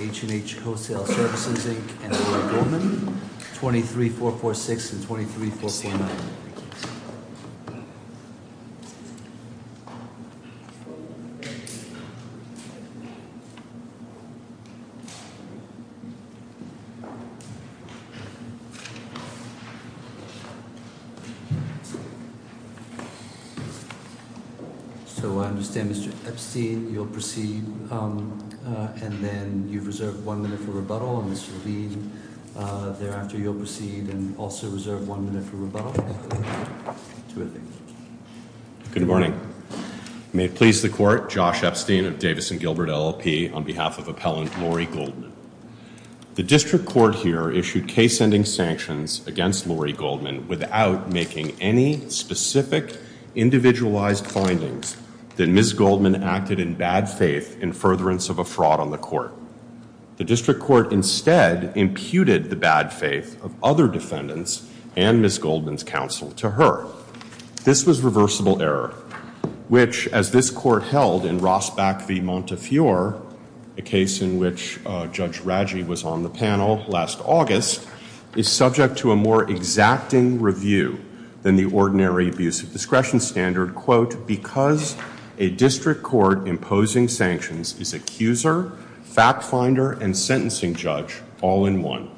H&H Wholesale Services, Inc. and Ford Goldman, 23446 and 23449. So I understand, Mr. Epstein, you'll proceed and then you've reserved one minute for rebuttal and this will be thereafter you'll proceed and also reserve one minute for rebuttal. Good morning. May it please the court, Josh Epstein of Davidson Gilbert LLP on behalf of appellant Lori Goldman. The district court here issued case-ending sanctions against Lori Goldman without making any specific individualized findings that Ms. Goldman acted in bad faith in furtherance of a fraud on the court. The district court instead imputed the bad faith of other defendants and Ms. Goldman's counsel to her. This was reversible error, which as this court held in Rosbach v. Montefiore, a case in which Judge Raggi was on the panel last August, is subject to a more exacting review than the ordinary abuse of discretion because a district court imposing sanctions is accuser, fact finder, and sentencing judge all in one.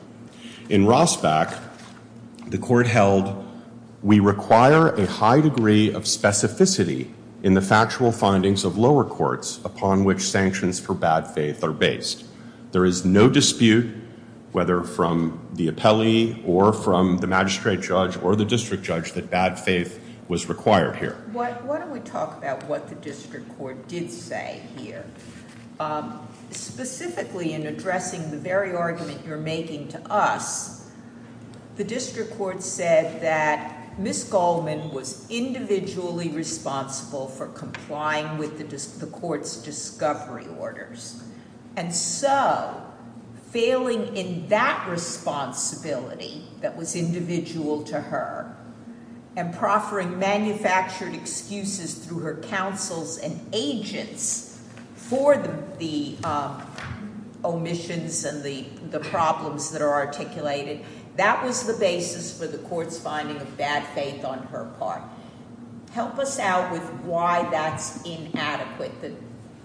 In Rosbach, the court held, we require a high degree of specificity in the factual findings of lower courts upon which sanctions for bad faith are based. There is no dispute whether from the appellee or from the magistrate judge or the district judge that bad faith was required here. Why don't we talk about what the district court did say here. Specifically in addressing the very argument you're making to us, the district court said that Ms. Goldman was individually responsible for complying with the court's discovery orders. Failing in that responsibility that was individual to her and proffering manufactured excuses through her counsels and agents for the omissions and the problems that are articulated, that was the basis for the court's finding of bad faith on her part. Help us out with why that's inadequate.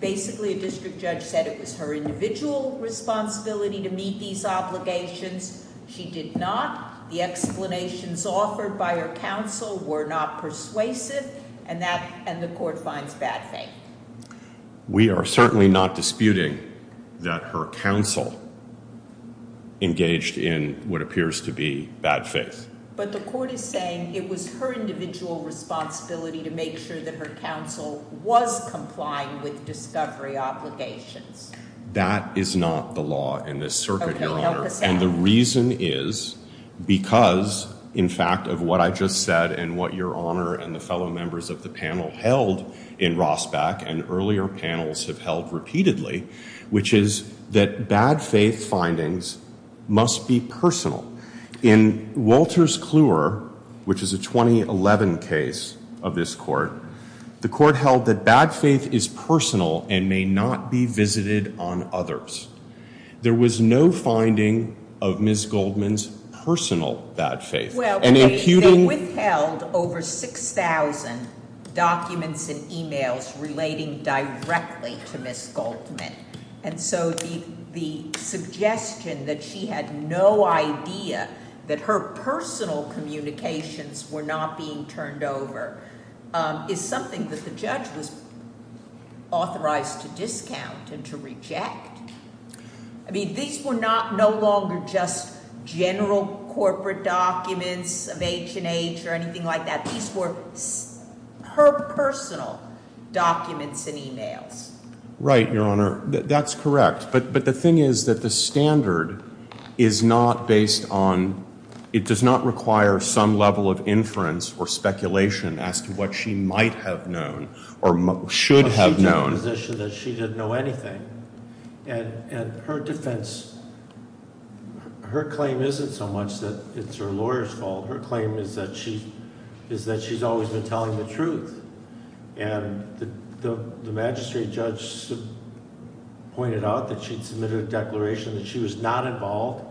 Basically a district judge said it was her individual responsibility to meet these obligations. She did not. The explanations offered by her counsel were not persuasive and the court finds bad faith. We are certainly not disputing that her counsel engaged in what appears to be bad faith. But the court is saying it was her individual responsibility to make sure that her counsel was complying with discovery obligations. That is not the law in this circuit, Your Honor. And the reason is because, in fact, of what I just said and what Your Honor and the fellow members of the panel held in Rosbach and earlier panels have held repeatedly, which is that bad faith findings must be personal. In Wolters Kluwer, which is a 2011 case of this court, the court held that bad faith is personal and may not be visited on others. There was no finding of Ms. Goldman's personal bad faith. Well, they withheld over 6,000 documents and e-mails relating directly to Ms. Goldman. And so the suggestion that she had no idea that her personal communications were not being turned over is something that the judge was authorized to discount and to reject. I mean, these were not no longer just general corporate documents of H and H or anything like that. These were her personal documents and e-mails. Right, Your Honor. That's correct. But the thing is that the standard is not based on, it does not require some level of inference or speculation as to what she might have known or should have known. But she took the position that she didn't know anything. And her defense, her claim isn't so much that it's her lawyer's fault. Her claim is that she's always been telling the truth. And the magistrate judge pointed out that she'd submitted a declaration that she was not involved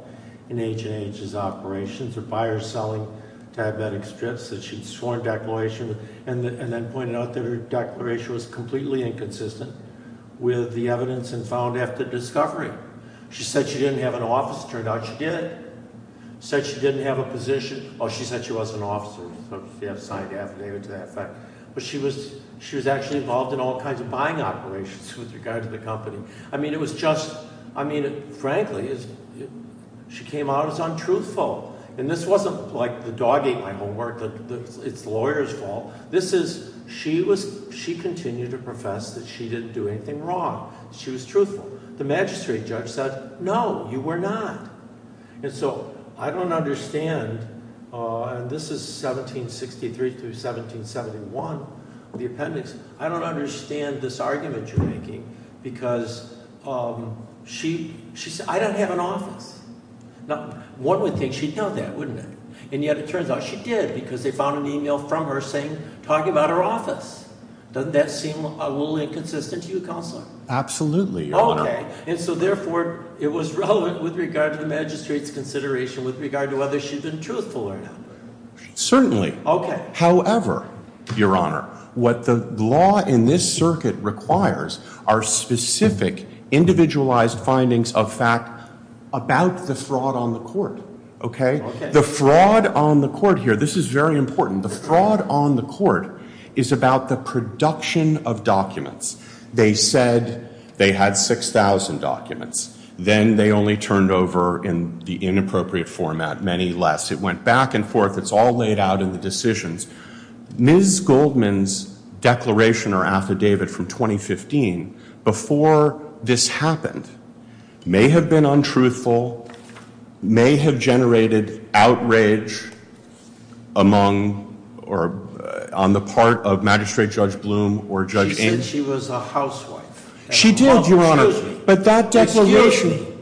in H and H's operations or buyers selling diabetic strips, that she'd sworn declaration and then pointed out that her declaration was completely inconsistent with the evidence and found after discovery. She said she didn't have an office. Turned out she did. Said she didn't have a position. Oh, she said she wasn't an officer. She had a signed affidavit to that effect. But she was actually involved in all kinds of buying operations with regard to the company. I mean, it was just, I mean, frankly, she came out as untruthful. And this wasn't like the dog ate my homework. It's the lawyer's fault. This is, she continued to profess that she didn't do anything wrong. She was truthful. The magistrate judge said, no, you were not. And so I don't understand. And this is 1763 through 1771, the appendix. I don't understand this argument you're making because she, she said, I don't have an office. Now, one would think she'd know that, wouldn't it? And yet it turns out she did because they found an email from her saying, talking about her office. Doesn't that seem a little inconsistent to you, Counselor? Absolutely, Your Honor. Okay. And so therefore, it was relevant with regard to the magistrate's consideration with regard to whether she'd been truthful or not. Certainly. Okay. However, Your Honor, what the law in this circuit requires are specific individualized findings of fact about the fraud on the court. Okay? The fraud on the court here, this is very important. The fraud on the court is about the production of documents. They said they had 6,000 documents. Then they only turned over in the inappropriate format many less. It went back and forth. It's all laid out in the decisions. Ms. Goldman's declaration or affidavit from 2015 before this happened may have been untruthful, may have generated outrage among or on the part of Magistrate Judge Blum or Judge Ames. She said she was a housewife. She did, Your Honor. But that declaration. Excuse me.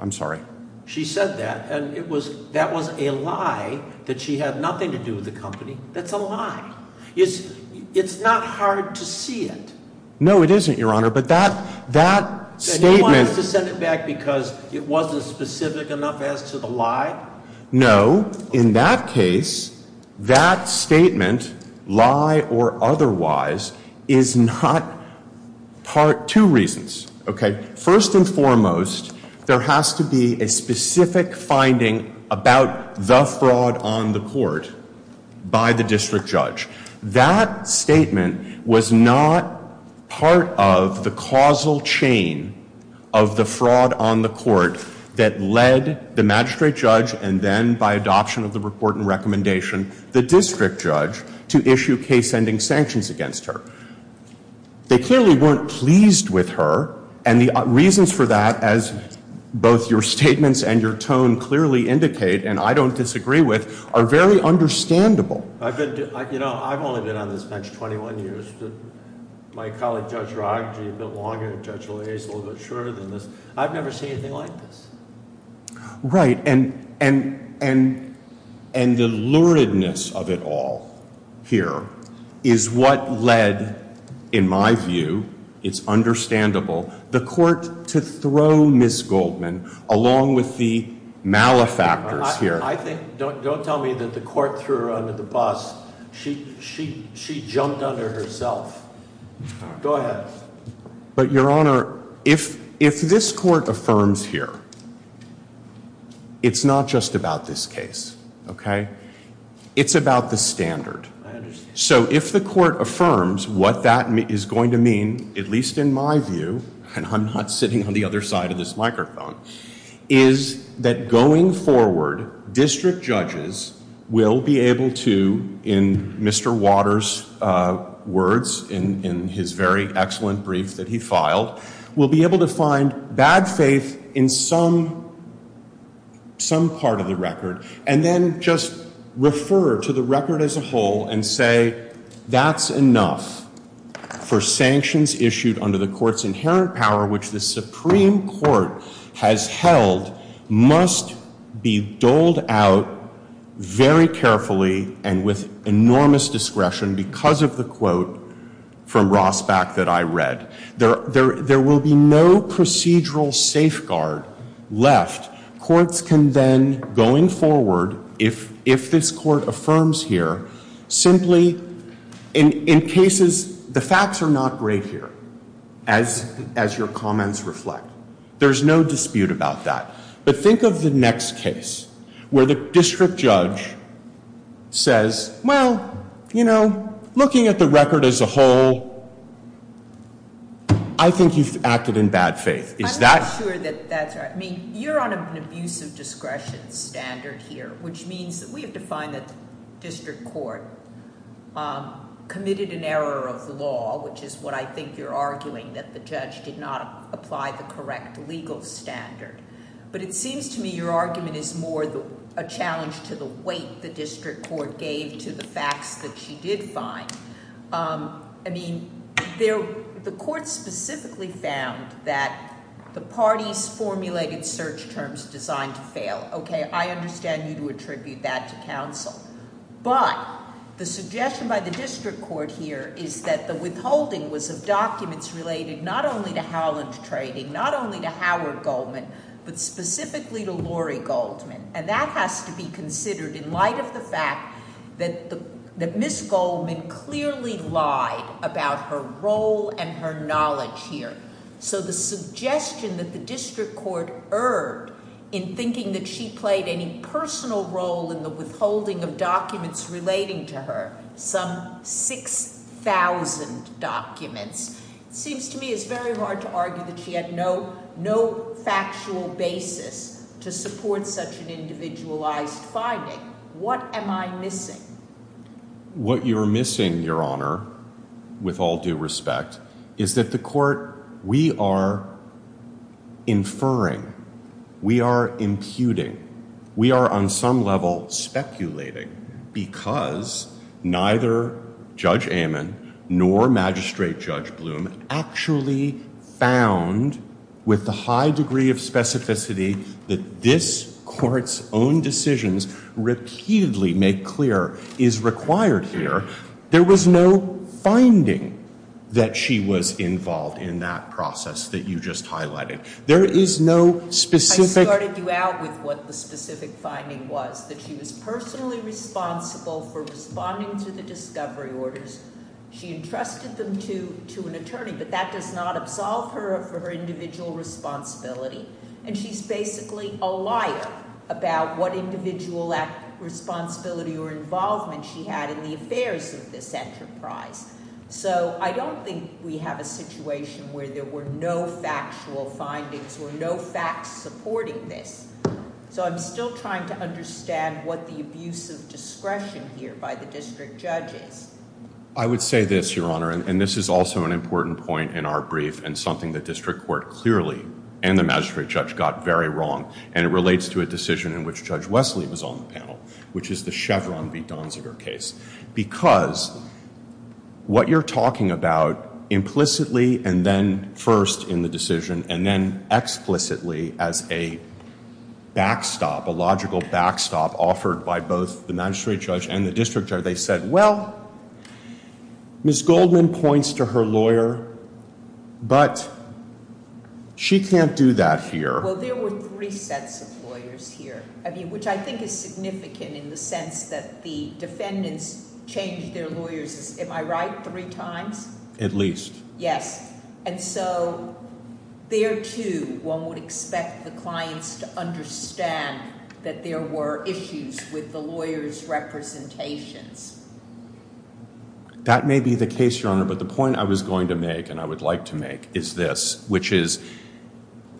I'm sorry. She said that and it was, that was a lie that she had nothing to do with the company. That's a lie. It's, it's not hard to see it. No, it isn't, Your Honor. But that, that statement. And you want us to send it back because it wasn't specific enough as to the lie? No. In that case, that statement, lie or otherwise, is not part, two reasons. Okay. First and foremost, there has to be a specific finding about the fraud on the court by the District Judge. That statement was not part of the causal chain of the fraud on the court that led the Magistrate Judge and then by adoption of the report and recommendation, the District Judge, to issue case-ending sanctions against her. They clearly weren't pleased with her and the reasons for that, as both your statements and your tone clearly indicate and I don't disagree with, are very understandable. I've been, you know, I've only been on this bench 21 years. My colleague, Judge Rogge, a bit longer and Judge of it all here is what led, in my view, it's understandable, the court to throw Ms. Goldman along with the malefactors here. I think, don't tell me that the court threw her under the bus. She, she, she jumped under herself. Go ahead. But Your Honor, if, if this court affirms here, it's not just about this case. Okay. It's about the standard. I understand. So if the court affirms what that is going to mean, at least in my view, and I'm not sitting on the other side of this microphone, is that going forward, District Judges will be able to, in Mr. Waters' words, in his very excellent brief that he filed, will be able to find bad faith in some, some part of the record, and then just refer to the record as a whole and say, that's enough for sanctions issued under the court's inherent power, which the Supreme Court has held must be doled out very carefully and with enormous discretion because of the, from Rosbach that I read. There, there, there will be no procedural safeguard left. Courts can then, going forward, if, if this court affirms here, simply, in, in cases, the facts are not great here, as, as your comments reflect. There's no dispute about that. But think of the next case where the District Judge says, well, you know, looking at the record as a whole, I think you've acted in bad faith. Is that? I'm not sure that that's right. I mean, you're on an abuse of discretion standard here, which means that we have to find that District Court committed an error of the law, which is what I think you're arguing, that the judge did not apply the correct legal standard. But it seems to me your argument is a challenge to the weight the District Court gave to the facts that she did find. I mean, there, the court specifically found that the parties formulated search terms designed to fail, okay? I understand you to attribute that to counsel. But the suggestion by the District Court here is that the withholding was of documents related not only to Howland Trading, not only to Howard Goldman, but specifically to Lori Goldman. And that has to be considered in light of the fact that the, that Ms. Goldman clearly lied about her role and her knowledge here. So the suggestion that the District Court erred in thinking that she played any personal role in the withholding of documents relating to her, some 6,000 documents, seems to me is very hard to argue that she had no factual basis to support such an individualized finding. What am I missing? What you're missing, Your Honor, with all due respect, is that the court, we are inferring, we are imputing, we are on some level speculating because neither Judge Amon nor Magistrate Judge Bloom actually found with the high degree of specificity that this Court's own decisions repeatedly make clear is required here. There was no finding that she was involved in that process that you just highlighted. There is no specific I started you out with what the specific finding was, that she was personally responsible for responding to the discovery orders. She entrusted them to an attorney, but that does not absolve her of her individual responsibility. And she's basically a liar about what individual responsibility or involvement she had in the affairs of this enterprise. So I don't think we have a situation where there were no factual findings or no facts supporting this. So I'm still trying to understand what the abuse of discretion here by the District Judge is. I would say this, Your Honor, and this is also an important point in our brief and something the District Court clearly and the Magistrate Judge got very wrong, and it relates to a decision in which Judge Wesley was on the panel, which is the Chevron v. Donziger case. Because what you're talking about implicitly and then first in the decision and then explicitly as a backstop, a logical backstop offered by both the Magistrate Judge and the District Judge, they said, well, Ms. Goldman points to her lawyer, but she can't do that here. Well, there were three sets of lawyers here, which I think is significant in the sense that the defendants changed their lawyers, am I right, three times? At least. Yes. And so there too, one would expect the clients to understand that there were issues with the lawyers' representations. That may be the case, Your Honor, but the point I was going to make and I would like to make is this, which is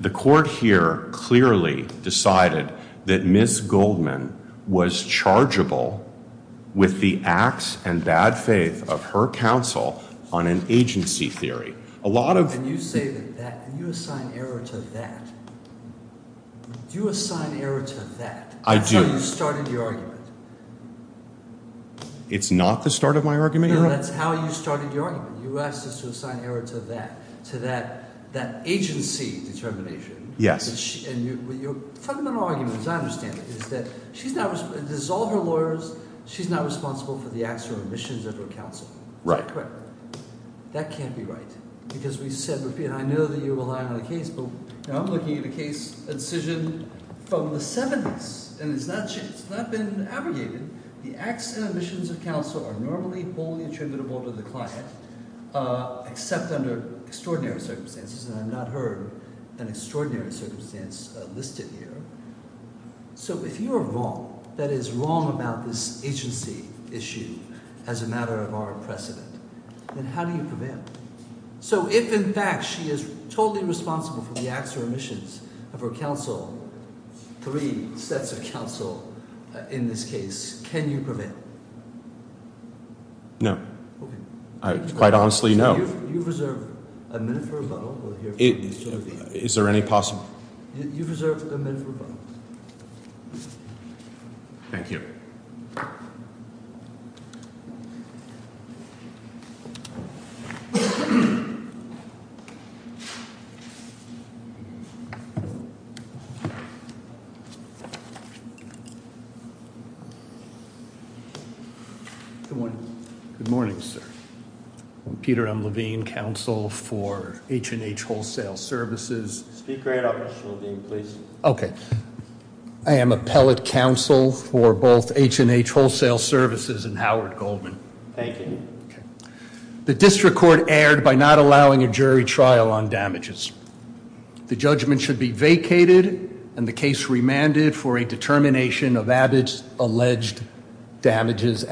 the Court here clearly decided that Ms. Goldman was chargeable with the acts and bad faith of her counsel on an agency theory. A lot of... You assign error to that. You assign error to that. I do. That's how you started your argument. It's not the start of my argument, Your Honor? No, that's how you started your argument. You asked us to assign error to that, to that agency determination. Yes. And your fundamental argument, as I understand it, is that she's not responsible, there's all her lawyers, she's not responsible for the acts or omissions of her counsel. Right. That can't be right, because we said, I know that you rely on the case, but I'm looking at a case, a decision from the 70s, and it's not been abrogated. The acts and omissions of counsel are normally wholly attributable to the client, except under extraordinary circumstances, and I've not heard an extraordinary circumstance listed here. So if you are wrong, that is wrong about this agency issue as a matter of our precedent, then how do you prevail? So if, in fact, she is totally responsible for the acts or omissions of her counsel, three sets of counsel in this case, can you prevail? No. I quite honestly, no. You've reserved a minute for rebuttal. Is there any possible? You've reserved a minute for rebuttal. Thank you. Good morning. Good morning, sir. I'm Peter M. Levine, counsel for H&H Wholesale Services. Speaker and operational dean, please. Okay. I am appellate counsel for both H&H Wholesale Services and Howard Goldman. Thank you. The district court erred by not allowing a jury trial on damages. The judgment should be vacated, and the case remanded for a determination of alleged damages.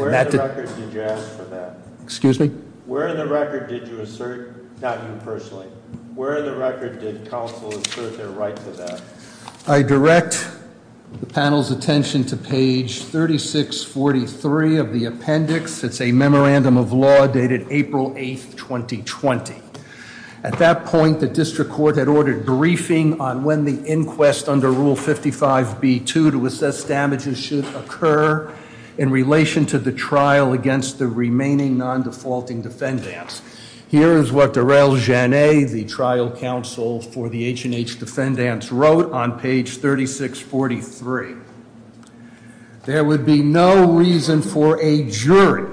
Excuse me? Where in the record did you assert, not you personally, where in the record did counsel assert their right to that? I direct the panel's attention to page 3643 of the appendix. It's a memorandum of law dated April 8th, 2020. At that point, the district court had ordered briefing on when the inquest under Rule 55b-2 to assess damages should occur in relation to the trial against the remaining non-defaulting defendants. Here is what Darrell Jannet, the trial counsel for the H&H defendants, wrote on page 3643. There would be no reason for a jury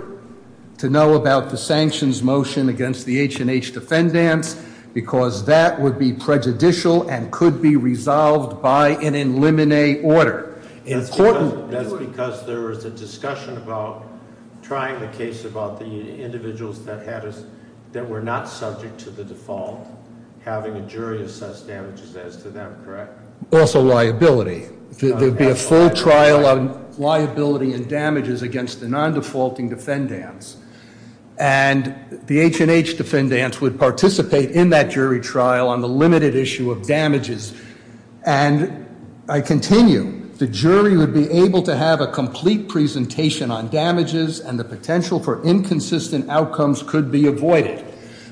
to know about the sanctions motion against the H&H defendants because that would be prejudicial and could be resolved by an in limine order. That's because there was a discussion about trying the case about the individuals that were not subject to the default, having a jury assess damages as to them, correct? Also liability. There'd be a full trial on liability and damages against the non-defaulting defendants. And the H&H defendants would participate in that jury trial on the limited issue of damages. And I continue, the jury would be able to have a complete presentation on damages and the potential for inconsistent outcomes could be avoided.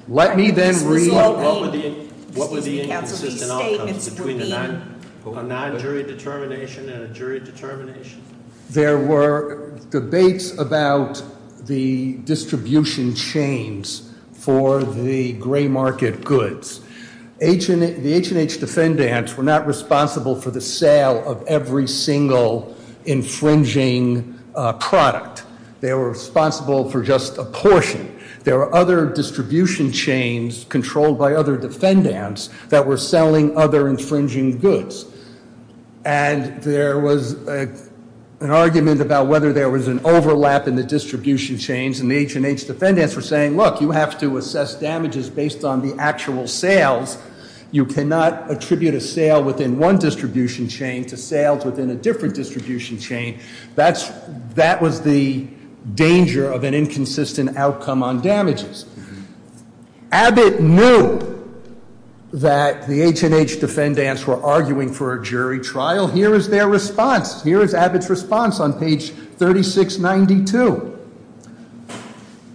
Let me then read- What were the inconsistent outcomes between a non-jury determination and a jury determination? There were debates about the distribution chains for the gray market goods. The H&H defendants were not responsible for the sale of every single infringing product. They were responsible for just a portion. There were other distribution chains controlled by defendants that were selling other infringing goods. And there was an argument about whether there was an overlap in the distribution chains. And the H&H defendants were saying, look, you have to assess damages based on the actual sales. You cannot attribute a sale within one distribution chain to sales within a different distribution chain. That was the danger of an inconsistent outcome on damages. Abbott knew that the H&H defendants were arguing for a jury trial. Here is their response. Here is Abbott's response on page 3692.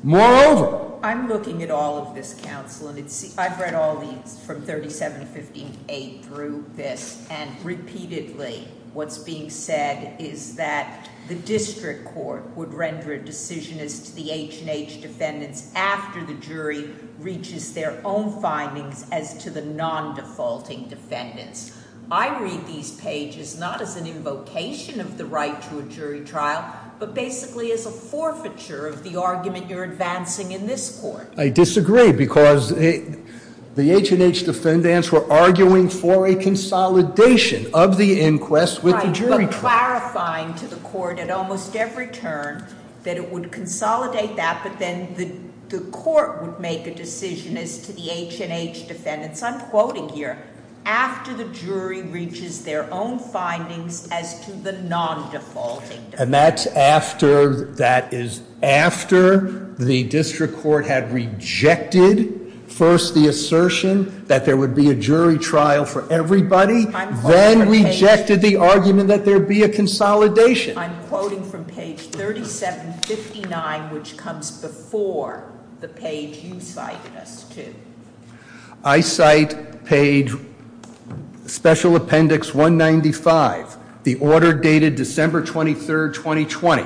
Moreover- I'm looking at all of this counsel and it's- I've read all these from 37 to 58 through this. And repeatedly what's being said is that the district court would render a decision as to the H&H defendants after the jury reaches their own findings as to the non-defaulting defendants. I read these pages not as an invocation of the right to a jury trial, but basically as a forfeiture of the argument you're advancing in this court. I disagree because the H&H defendants were arguing for a consolidation of the inquest with the jury trial. Right, but clarifying to the court at almost every turn that it would consolidate that, but then the court would make a decision as to the H&H defendants. I'm quoting here, after the jury reaches their own findings as to the non-defaulting defendants. And that's after, that is after the district court had rejected first the assertion that there would be a jury trial for everybody, then rejected the argument that there'd be a consolidation. I'm quoting from page 3759, which comes before the page you cited us to. I cite page special appendix 195, the order dated December 23rd, 2020.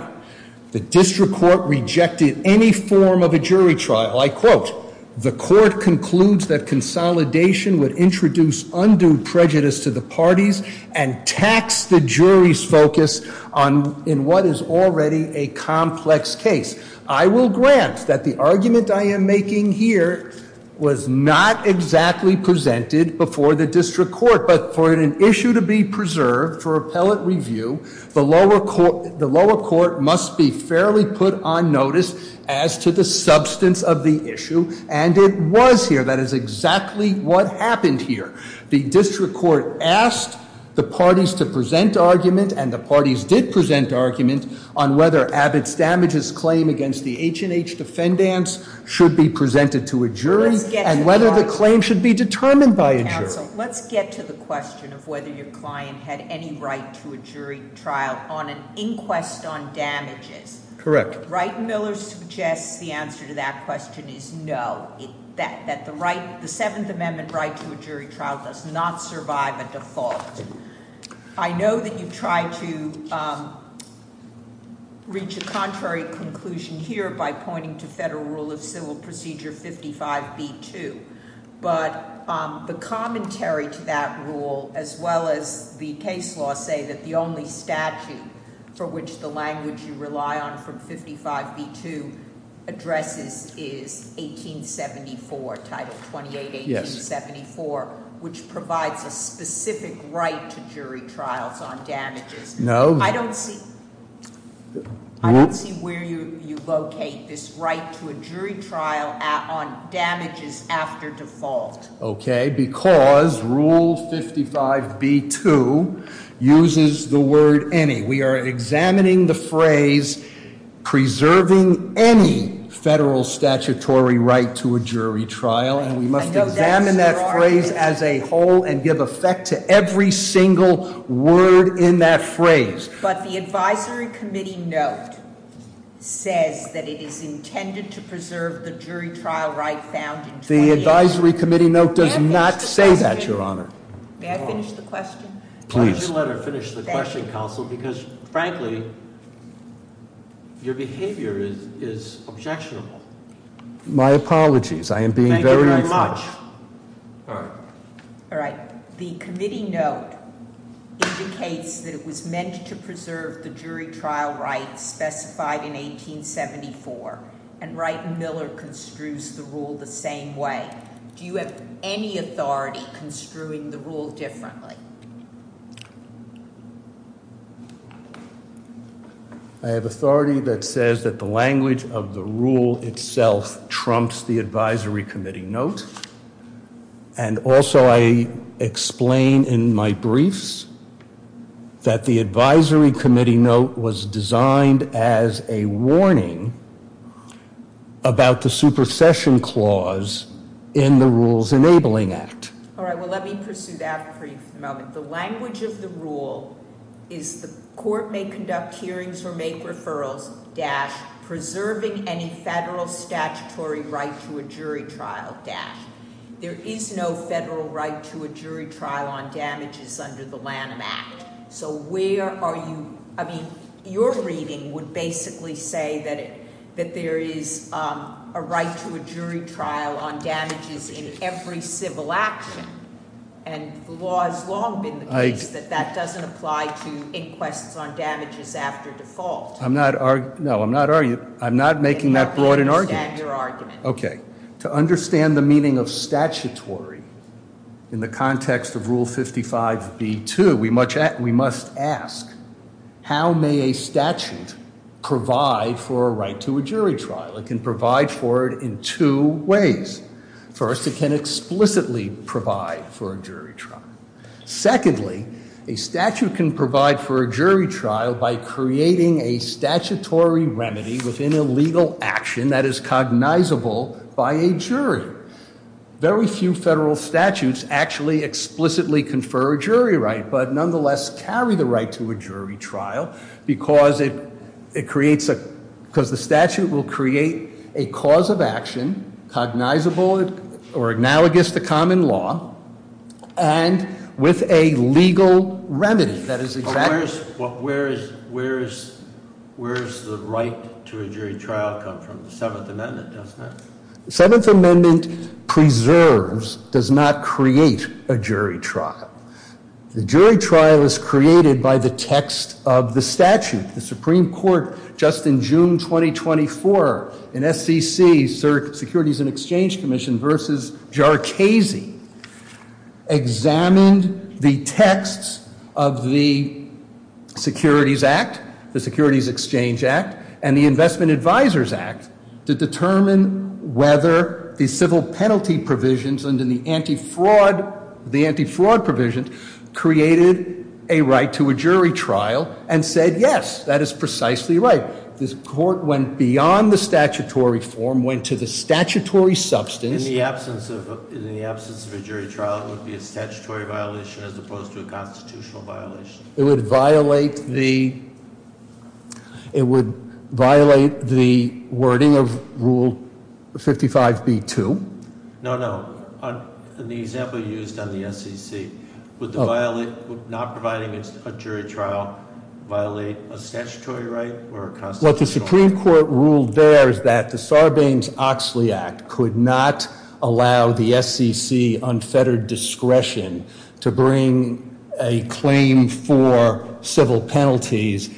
The district court rejected any form of a jury trial. I quote, the court concludes that consolidation would introduce undue prejudice to the parties and tax the jury's focus on, in what is already a complex case. I will grant that the argument I am making here was not exactly presented before the district court. But for an issue to be preserved for appellate review, the lower court must be fairly put on notice as to the substance of the issue, and it was here. That is exactly what happened here. The district court asked the parties to present argument, and the parties did present argument on whether Abbott's damages claim against the H&H defendants should be presented to a jury, and whether the claim should be determined by a jury. Let's get to the question of whether your client had any right to a jury trial on an inquest on damages. Correct. Wright & Miller suggests the answer to that question is no, that the right, the Seventh Amendment right to a jury trial does not survive a default. I know that you've tried to reach a contrary conclusion here by pointing to Federal Rule of Civil Procedure 55B2. But the commentary to that rule, as well as the case law, say that the only statute for which the language you rely on from 55B2 addresses is 1874, Title 28-1874, which provides a specific right to jury trials on damages. No. I don't see where you locate this right to a jury trial on damages after default. Okay, because Rule 55B2 uses the word any. We are examining the phrase, preserving any federal statutory right to a jury trial. And we must examine that phrase as a whole and give effect to every single word in that phrase. But the advisory committee note says that it is intended to preserve the jury trial right found in- The advisory committee note does not say that, Your Honor. May I finish the question? Please. Why don't you let her finish the question, counsel, because frankly, your behavior is objectionable. My apologies. I am being very much- All right. All right. The committee note indicates that it was meant to preserve the jury trial rights specified in 1874. And Wright and Miller construes the rule the same way. Do you have any authority construing the rule differently? I have authority that says that the language of the rule itself trumps the advisory committee note. And also I explain in my briefs that the advisory About the supersession clause in the Rules Enabling Act. All right, well let me pursue that for you for the moment. The language of the rule is the court may conduct hearings or make referrals, dash, preserving any federal statutory right to a jury trial, dash. There is no federal right to a jury trial on damages under the Lanham Act. So where are you, I mean, your reading would basically say that there is a right to a jury trial on damages in every civil action. And the law has long been the case that that doesn't apply to inquests on damages after default. I'm not, no, I'm not making that broad an argument. I understand your argument. Okay. To understand the meaning of statutory in the context of Rule 55B2, we must ask, how may a statute provide for a right to a jury trial? It can provide for it in two ways. First, it can explicitly provide for a jury trial. Secondly, a statute can provide for a jury trial by creating a statutory remedy within a legal action that is cognizable by a jury. Very few federal statutes actually explicitly confer a jury right, but nonetheless carry the right to a jury trial because the statute will create a cause of action, cognizable or analogous to common law, and with a legal remedy that is exact. Where's the right to a jury trial come from? The Seventh Amendment does that. The Seventh Amendment preserves, does not create, a jury trial. The jury trial is created by the text of the statute. The Supreme Court, just in June 2024, in SEC, Securities and Exchange Commission, versus Jarchese, examined the texts of the Securities Act, the Securities Exchange Act, and the Investment Advisors Act to determine whether the civil penalty provisions and the anti-fraud provisions created a right to a jury trial and said, yes, that is precisely right. This court went beyond the statutory form, went to the statutory substance. In the absence of a jury trial, it would be a statutory violation as opposed to a constitutional violation. It would violate the, it would violate the wording of Rule 55B2. No, no, in the example you used on the SEC, would not providing a jury trial violate a statutory right or a constitutional right? What the Supreme Court ruled there is that the Sarbanes-Oxley Act could not allow the SEC unfettered discretion to bring a claim for civil penalties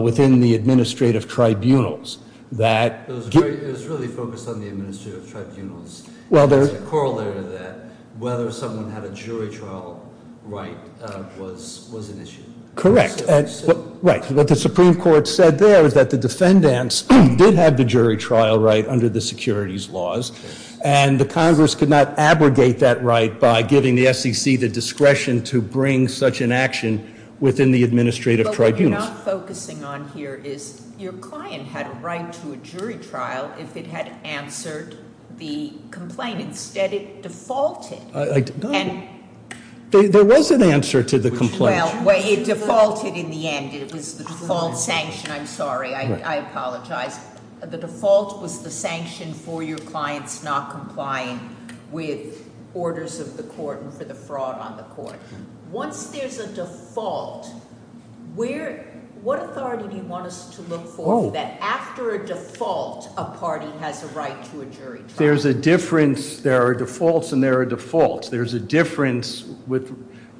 within the administrative tribunals that- It was really focused on the administrative tribunals. Well, there- It's a corollary to that, whether someone had a jury trial right was an issue. Correct. Right, what the Supreme Court said there is that the defendants did have the jury trial right under the securities laws. And the Congress could not abrogate that right by giving the SEC the discretion to bring such an action within the administrative tribunals. What we're not focusing on here is your client had a right to a jury trial if it had answered the complaint. Instead, it defaulted. I don't- And- There was an answer to the complaint. Well, it defaulted in the end. It was the default sanction. I'm sorry, I apologize. The default was the sanction for your clients not complying with orders of the court and for the fraud on the court. Once there's a default, what authority do you want us to look for that after a default, a party has a right to a jury trial? There's a difference. There are defaults and there are defaults. There's a difference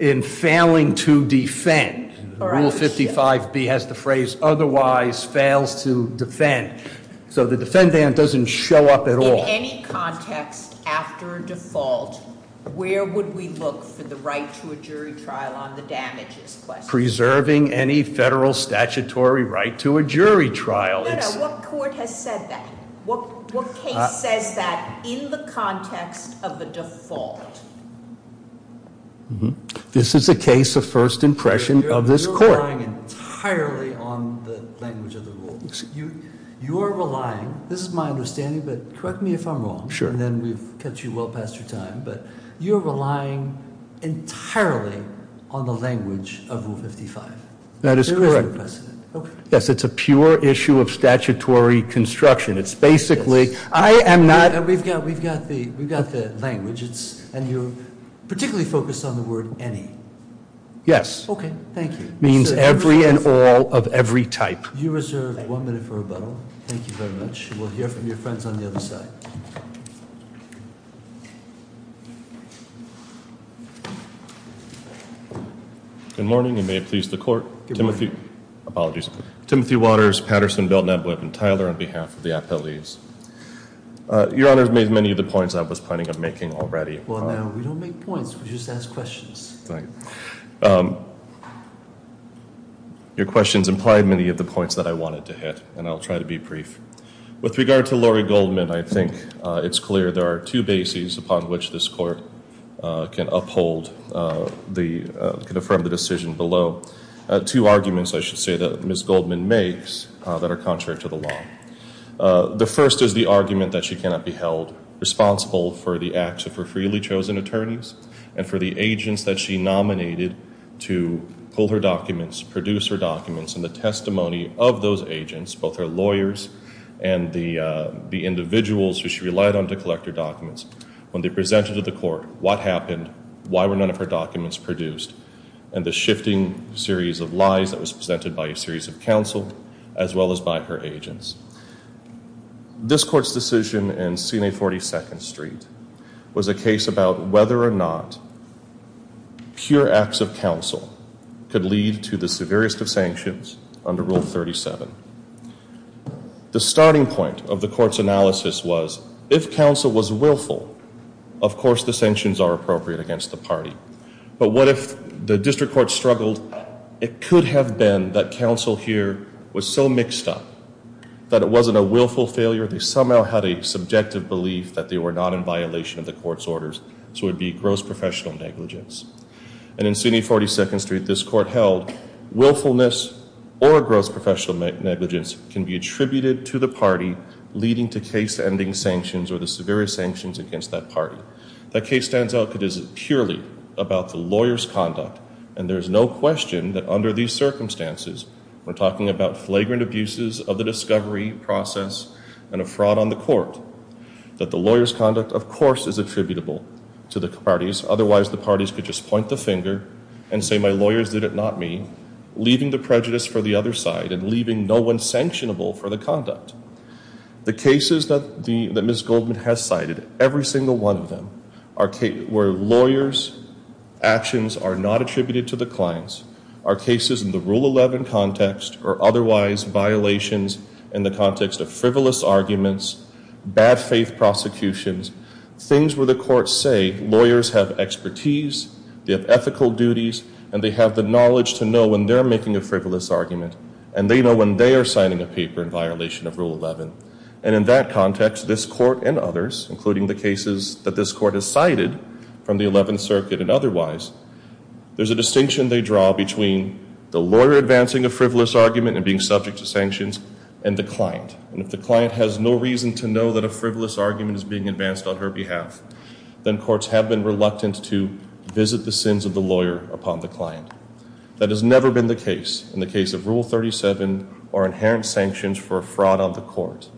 in failing to defend. Rule 55B has the phrase otherwise fails to defend. So the defendant doesn't show up at all. In any context after default, where would we look for the right to a jury trial on the damages question? Preserving any federal statutory right to a jury trial. No, no, what court has said that? What case says that in the context of the default? Mm-hm, this is a case of first impression of this court. You're relying entirely on the language of the rule. You are relying, this is my understanding, but correct me if I'm wrong. Sure. And then we've cut you well past your time, but you're relying entirely on the language of Rule 55. That is correct. Yes, it's a pure issue of statutory construction. It's basically, I am not- We've got the language, and you're particularly focused on the word any. Yes. Okay, thank you. Means every and all of every type. You reserve one minute for rebuttal. Thank you very much. We'll hear from your friends on the other side. Good morning, and may it please the court. Apologies. Timothy Waters, Patterson, Belden, Abweb, and Tyler on behalf of the appellees. Your Honor has made many of the points I was planning on making already. Well, no, we don't make points, we just ask questions. Right. Your questions implied many of the points that I wanted to hit, and I'll try to be brief. With regard to Lori Goldman, I think it's clear there are two bases upon which this court can uphold, can affirm the decision below. Two arguments, I should say, that Ms. Goldman makes that are contrary to the law. The first is the argument that she cannot be held responsible for the acts of her freely chosen attorneys, and for the agents that she nominated to pull her documents, produce her documents. And the testimony of those agents, both her lawyers and the individuals who she relied on to collect her documents, when they presented to the court what happened, why were none of her documents produced, and the shifting series of lies that was presented by a series of counsel, as well as by her agents. This court's decision in CMA 42nd Street was a case about whether or not pure acts of counsel could lead to the severest of sanctions under Rule 37. The starting point of the court's analysis was, if counsel was willful, of course the sanctions are appropriate against the party. But what if the district court struggled, it could have been that counsel here was so mixed up, that it wasn't a willful failure, they somehow had a subjective belief that they were not in violation of the court's orders, so it would be gross professional negligence. And in CMA 42nd Street, this court held willfulness or gross professional negligence can be attributed to the party leading to case-ending sanctions or the severest sanctions against that party. That case stands out because it is purely about the lawyer's conduct, and there is no question that under these circumstances, we're talking about flagrant abuses of the discovery process and a fraud on the court, that the lawyer's conduct, of course, is attributable to the parties, otherwise the parties could just point the finger and say, my lawyers did it, not me, leaving the prejudice for the other side and leaving no one sanctionable for the conduct. The cases that Ms. Goldman has cited, every single one of them, where lawyers' actions are not attributed to the clients, are cases in the Rule 11 context or otherwise violations in the context of frivolous arguments, bad faith prosecutions, things where the courts say lawyers have expertise, they have ethical duties, and they have the knowledge to know when they're making a frivolous argument, and they know when they are signing a paper in violation of Rule 11. And in that context, this court and others, including the cases that this court has cited from the Eleventh Circuit and otherwise, there's a distinction they draw between the lawyer advancing a frivolous argument and being subject to sanctions and the client. And if the client has no reason to know that a frivolous argument is being advanced on her behalf, then courts have been reluctant to visit the sins of the lawyer upon the client. That has never been the case in the case of Rule 37 or inherent sanctions for fraud on the court,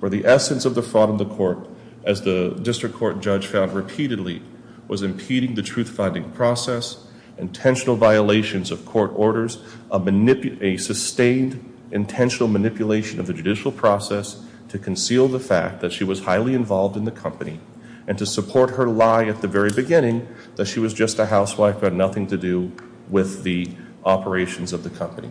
where the essence of the fraud on the court, as the district court judge found repeatedly, was impeding the truth-finding process, intentional violations of court orders, a sustained intentional manipulation of the judicial process to conceal the fact that she was highly involved in the company and to support her lie at the very beginning that she was just a housewife who had nothing to do with the operations of the company.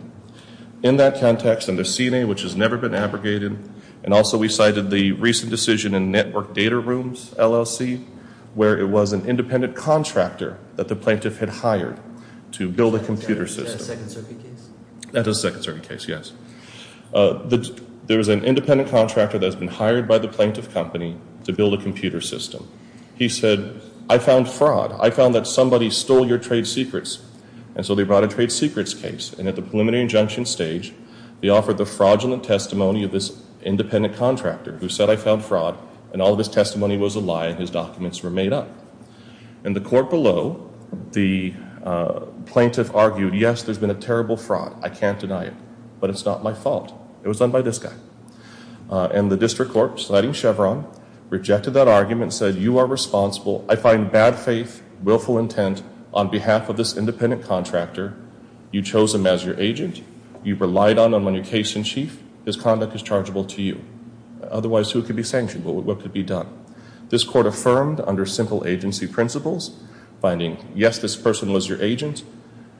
In that context, under CNA, which has never been abrogated, and also we cited the recent decision in Network Data Rooms, LLC, where it was an independent contractor that the plaintiff had hired to build a computer system. Is that a Second Circuit case? That is a Second Circuit case, yes. There was an independent contractor that has been hired by the plaintiff company to build a computer system. He said, I found fraud. I found that somebody stole your trade secrets. And so they brought a trade secrets case. And at the preliminary injunction stage, they offered the fraudulent testimony of this independent contractor who said, I found fraud, and all of his testimony was a lie and his documents were made up. And the court below, the plaintiff argued, yes, there's been a terrible fraud. I can't deny it. But it's not my fault. It was done by this guy. And the district court, citing Chevron, rejected that argument and said, you are responsible. I find bad faith, willful intent on behalf of this independent contractor. You chose him as your agent. You relied on him on your case in chief. His conduct is chargeable to you. Otherwise, who could be sanctioned? What could be done? This court affirmed under simple agency principles, finding, yes, this person was your agent.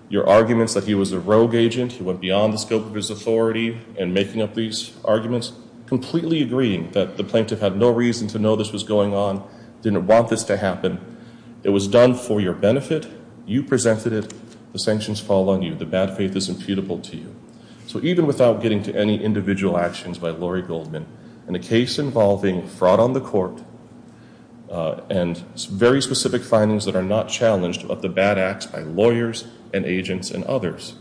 Your arguments that he was a rogue agent, he went beyond the scope of his authority in making up these arguments, completely agreeing that the plaintiff had no reason to know this was going on, didn't want this to happen. It was done for your benefit. You presented it. The sanctions fall on you. The bad faith is imputable to you. So even without getting to any individual actions by Lori Goldman, in a case involving fraud on the court and very specific findings that are not challenged of the bad acts by lawyers and agents and others,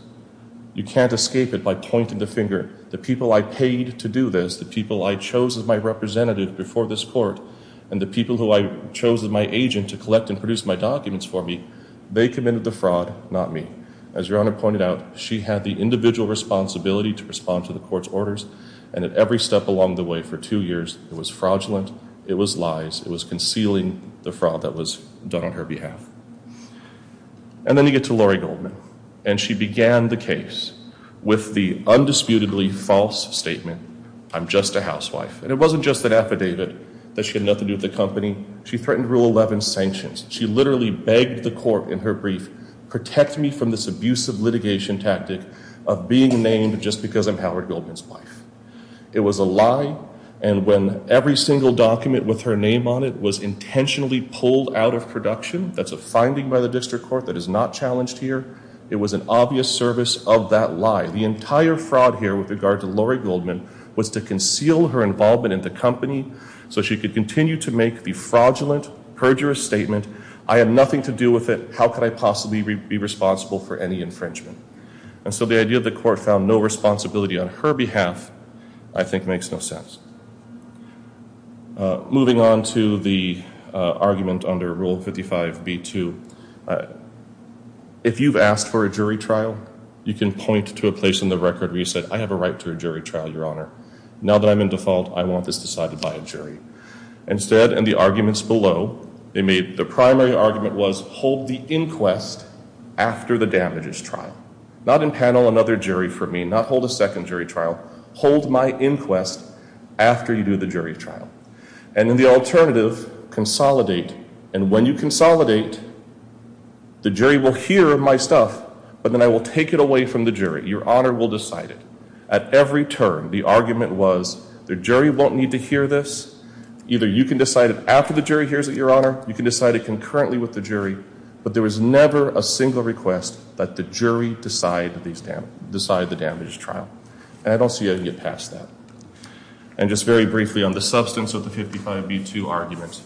you can't escape it by pointing the finger. The people I paid to do this, the people I chose as my representative before this court, and the people who I chose as my agent to collect and produce my documents for me, they committed the fraud, not me. As Your Honor pointed out, she had the individual responsibility to respond to the court's orders, and at every step along the way for two years, it was fraudulent, it was lies, it was concealing the fraud that was done on her behalf. And then you get to Lori Goldman. And she began the case with the undisputedly false statement, I'm just a housewife. And it wasn't just an affidavit that she had nothing to do with the company. She threatened Rule 11 sanctions. She literally begged the court in her brief, protect me from this abusive litigation tactic of being named just because I'm Howard Goldman's wife. It was a lie. And when every single document with her name on it was intentionally pulled out of production, that's a finding by the district court that is not challenged here, it was an obvious service of that lie. The entire fraud here with regard to Lori Goldman was to conceal her involvement in the company so she could continue to make the fraudulent, perjurous statement, I have nothing to do with it, how could I possibly be responsible for any infringement? And so the idea that the court found no responsibility on her behalf I think makes no sense. Moving on to the argument under Rule 55B2. If you've asked for a jury trial, you can point to a place in the record where you said, I have a right to a jury trial, Your Honor. Now that I'm in default, I want this decided by a jury. Instead, in the arguments below, the primary argument was hold the inquest after the damages trial. Not impanel another jury for me, not hold a second jury trial. Hold my inquest after you do the jury trial. And in the alternative, consolidate, and when you consolidate, the jury will hear my stuff, but then I will take it away from the jury. Your Honor will decide it. At every turn, the argument was the jury won't need to hear this, either you can decide it after the jury hears it, Your Honor, you can decide it concurrently with the jury, but there was never a single request that the jury decide the damages trial. And I don't see how you can get past that. And just very briefly on the substance of the 55B2 argument,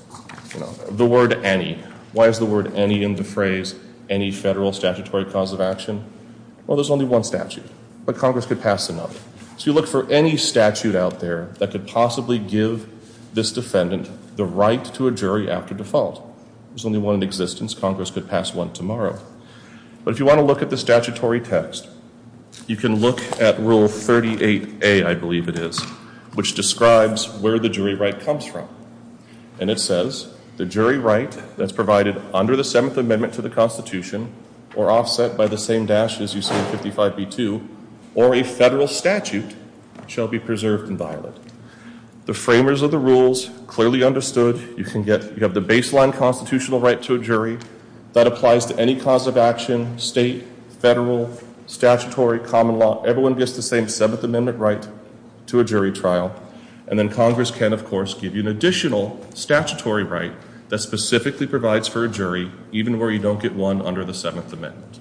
the word any. Why is the word any in the phrase any federal statutory cause of action? Well, there's only one statute, but Congress could pass another. So you look for any statute out there that could possibly give this defendant the right to a jury after default. There's only one in existence. Congress could pass one tomorrow. But if you want to look at the statutory text, you can look at Rule 38A, I believe it is, which describes where the jury right comes from. And it says the jury right that's provided under the Seventh Amendment to the Constitution or offset by the same dash as you see in 55B2 or a federal statute shall be preserved and violated. The framers of the rules clearly understood. You have the baseline constitutional right to a jury that applies to any cause of action, state, federal, statutory, common law. Everyone gets the same Seventh Amendment right to a jury trial. And then Congress can, of course, give you an additional statutory right that specifically provides for a jury, even where you don't get one under the Seventh Amendment.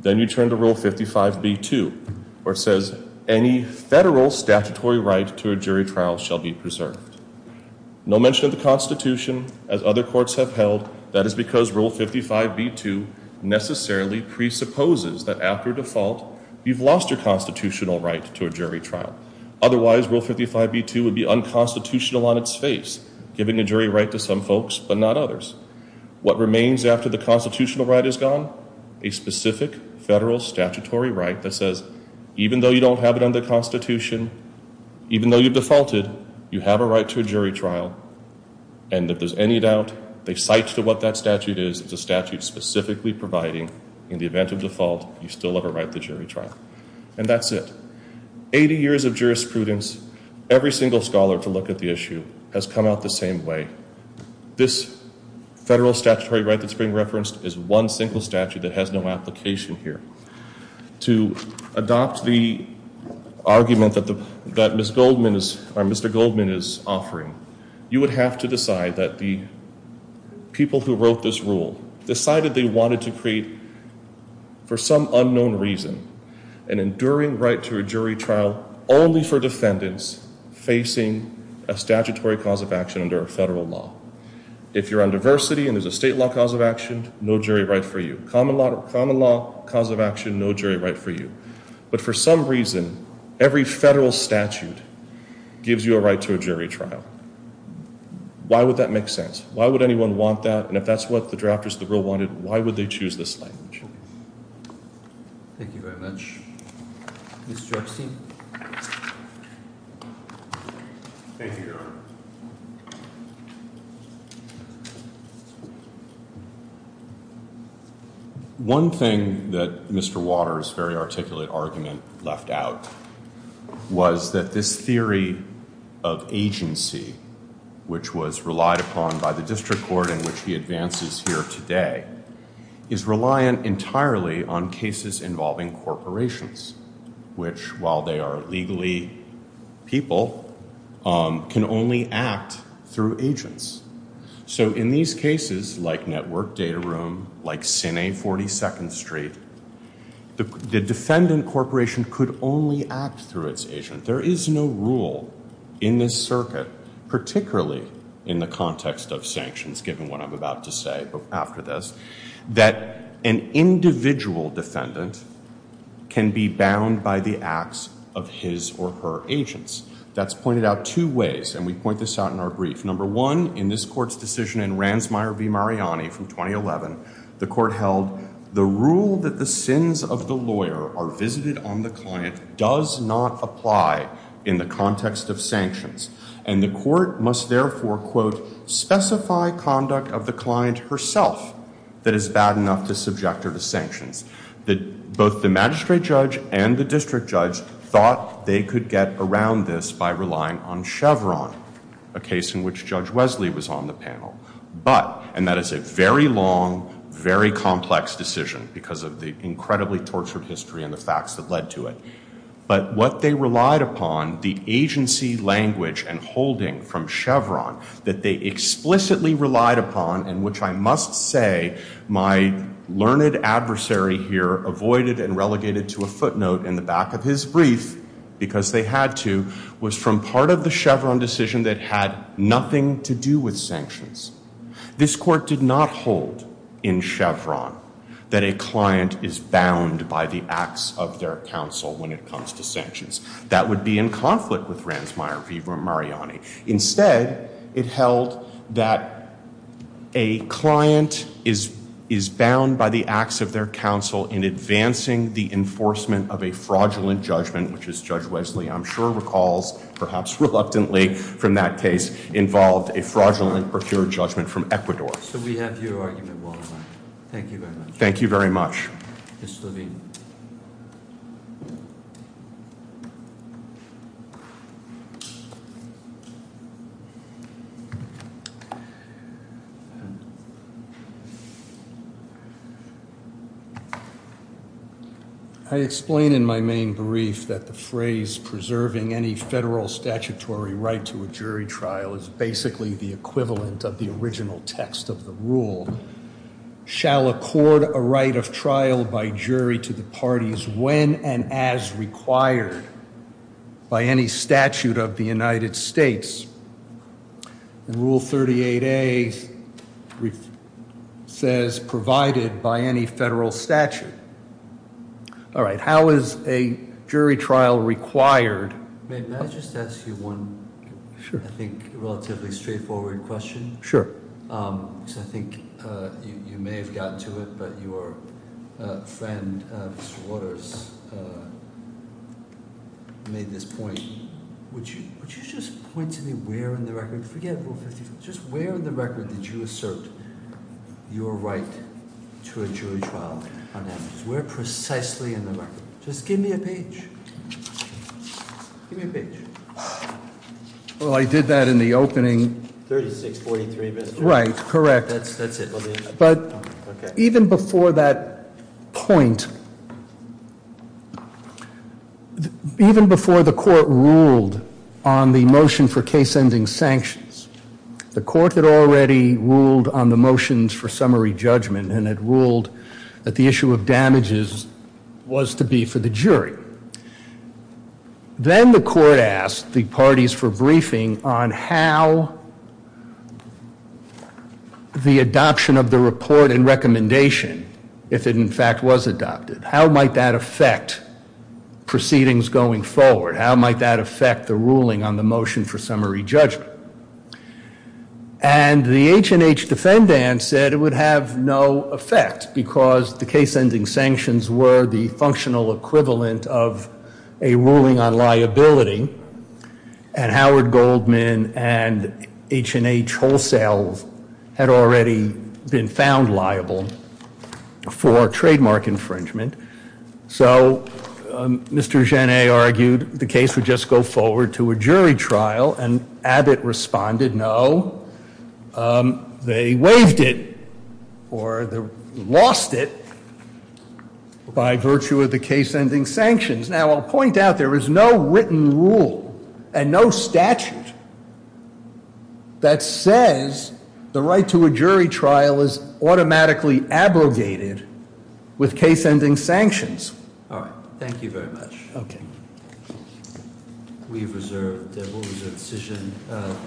Then you turn to Rule 55B2 where it says any federal statutory right to a jury trial shall be preserved. No mention of the Constitution as other courts have held. That is because Rule 55B2 necessarily presupposes that after default, you've lost your constitutional right to a jury trial. Otherwise, Rule 55B2 would be unconstitutional on its face, giving a jury right to some folks but not others. What remains after the constitutional right is gone? A specific federal statutory right that says even though you don't have it under the Constitution, even though you've defaulted, you have a right to a jury trial. And if there's any doubt, they cite to what that statute is. It's a statute specifically providing in the event of default, you still have a right to a jury trial. And that's it. Eighty years of jurisprudence, every single scholar to look at the issue has come out the same way. This federal statutory right that's being referenced is one single statute that has no application here. To adopt the argument that Mr. Goldman is offering, you would have to decide that the people who wrote this rule decided they wanted to create, for some unknown reason, an enduring right to a jury trial only for defendants facing a statutory cause of action under a federal law. If you're on diversity and there's a state law cause of action, no jury right for you. Common law cause of action, no jury right for you. But for some reason, every federal statute gives you a right to a jury trial. Why would that make sense? Why would anyone want that? And if that's what the drafters of the rule wanted, why would they choose this language? Thank you very much. Mr. Epstein? Thank you, Your Honor. One thing that Mr. Waters' very articulate argument left out was that this theory of agency, which was relied upon by the district court in which he advances here today, is reliant entirely on cases involving corporations, which, while they are legally people, can only act through agents. So in these cases, like Network Data Room, like Sine 42nd Street, the defendant corporation could only act through its agent. There is no rule in this circuit, particularly in the context of sanctions, given what I'm about to say after this, that an individual defendant can be bound by the acts of his or her agents. That's pointed out two ways, and we point this out in our brief. Number one, in this court's decision in Ranzmeier v. Mariani from 2011, the court held the rule that the sins of the lawyer are visited on the client does not apply in the context of sanctions. And the court must therefore, quote, specify conduct of the client herself that is bad enough to subject her to sanctions. Both the magistrate judge and the district judge thought they could get around this by relying on Chevron, a case in which Judge Wesley was on the panel. But, and that is a very long, very complex decision because of the incredibly tortured history and the facts that led to it, but what they relied upon, the agency language and holding from Chevron that they explicitly relied upon, and which I must say my learned adversary here avoided and relegated to a footnote in the back of his brief because they had to, was from part of the Chevron decision that had nothing to do with sanctions. This court did not hold in Chevron that a client is bound by the acts of their counsel when it comes to sanctions. That would be in conflict with Ranzmeier v. Mariani. Instead, it held that a client is bound by the acts of their counsel in advancing the enforcement of a fraudulent judgment, which as Judge Wesley I'm sure recalls, perhaps reluctantly from that case, involved a fraudulent or pure judgment from Ecuador. So we have your argument, Warren. Thank you very much. Thank you very much. Ms. Levine. I explain in my main brief that the phrase preserving any federal statutory right to a jury trial is basically the equivalent of the original text of the rule. Shall accord a right of trial by jury to the parties when and as required by any statute of the United States. Rule 38A says provided by any federal statute. All right, how is a jury trial required? May I just ask you one, I think, relatively straightforward question? Sure. I think you may have gotten to it, but your friend, Mr. Waters, made this point. Would you just point to me where in the record, forget Rule 55, just where in the record did you assert your right to a jury trial? Where precisely in the record? Just give me a page. Give me a page. Well, I did that in the opening. 3643. Right, correct. That's it. But even before that point, even before the court ruled on the motion for case-ending sanctions, the court had already ruled on the motions for summary judgment and had ruled that the issue of damages was to be for the jury. Then the court asked the parties for briefing on how the adoption of the report and recommendation, if it in fact was adopted, how might that affect proceedings going forward? How might that affect the ruling on the motion for summary judgment? And the H&H defendant said it would have no effect because the case-ending sanctions were the functional equivalent of a ruling on liability, and Howard Goldman and H&H wholesale had already been found liable for trademark infringement. So Mr. Genet argued the case would just go forward to a jury trial, and Abbott responded no. They waived it or lost it by virtue of the case-ending sanctions. Now, I'll point out there is no written rule and no statute that says the right to a jury trial is automatically abrogated with case-ending sanctions. All right. Thank you very much. Okay. We've reserved, we'll reserve the decision.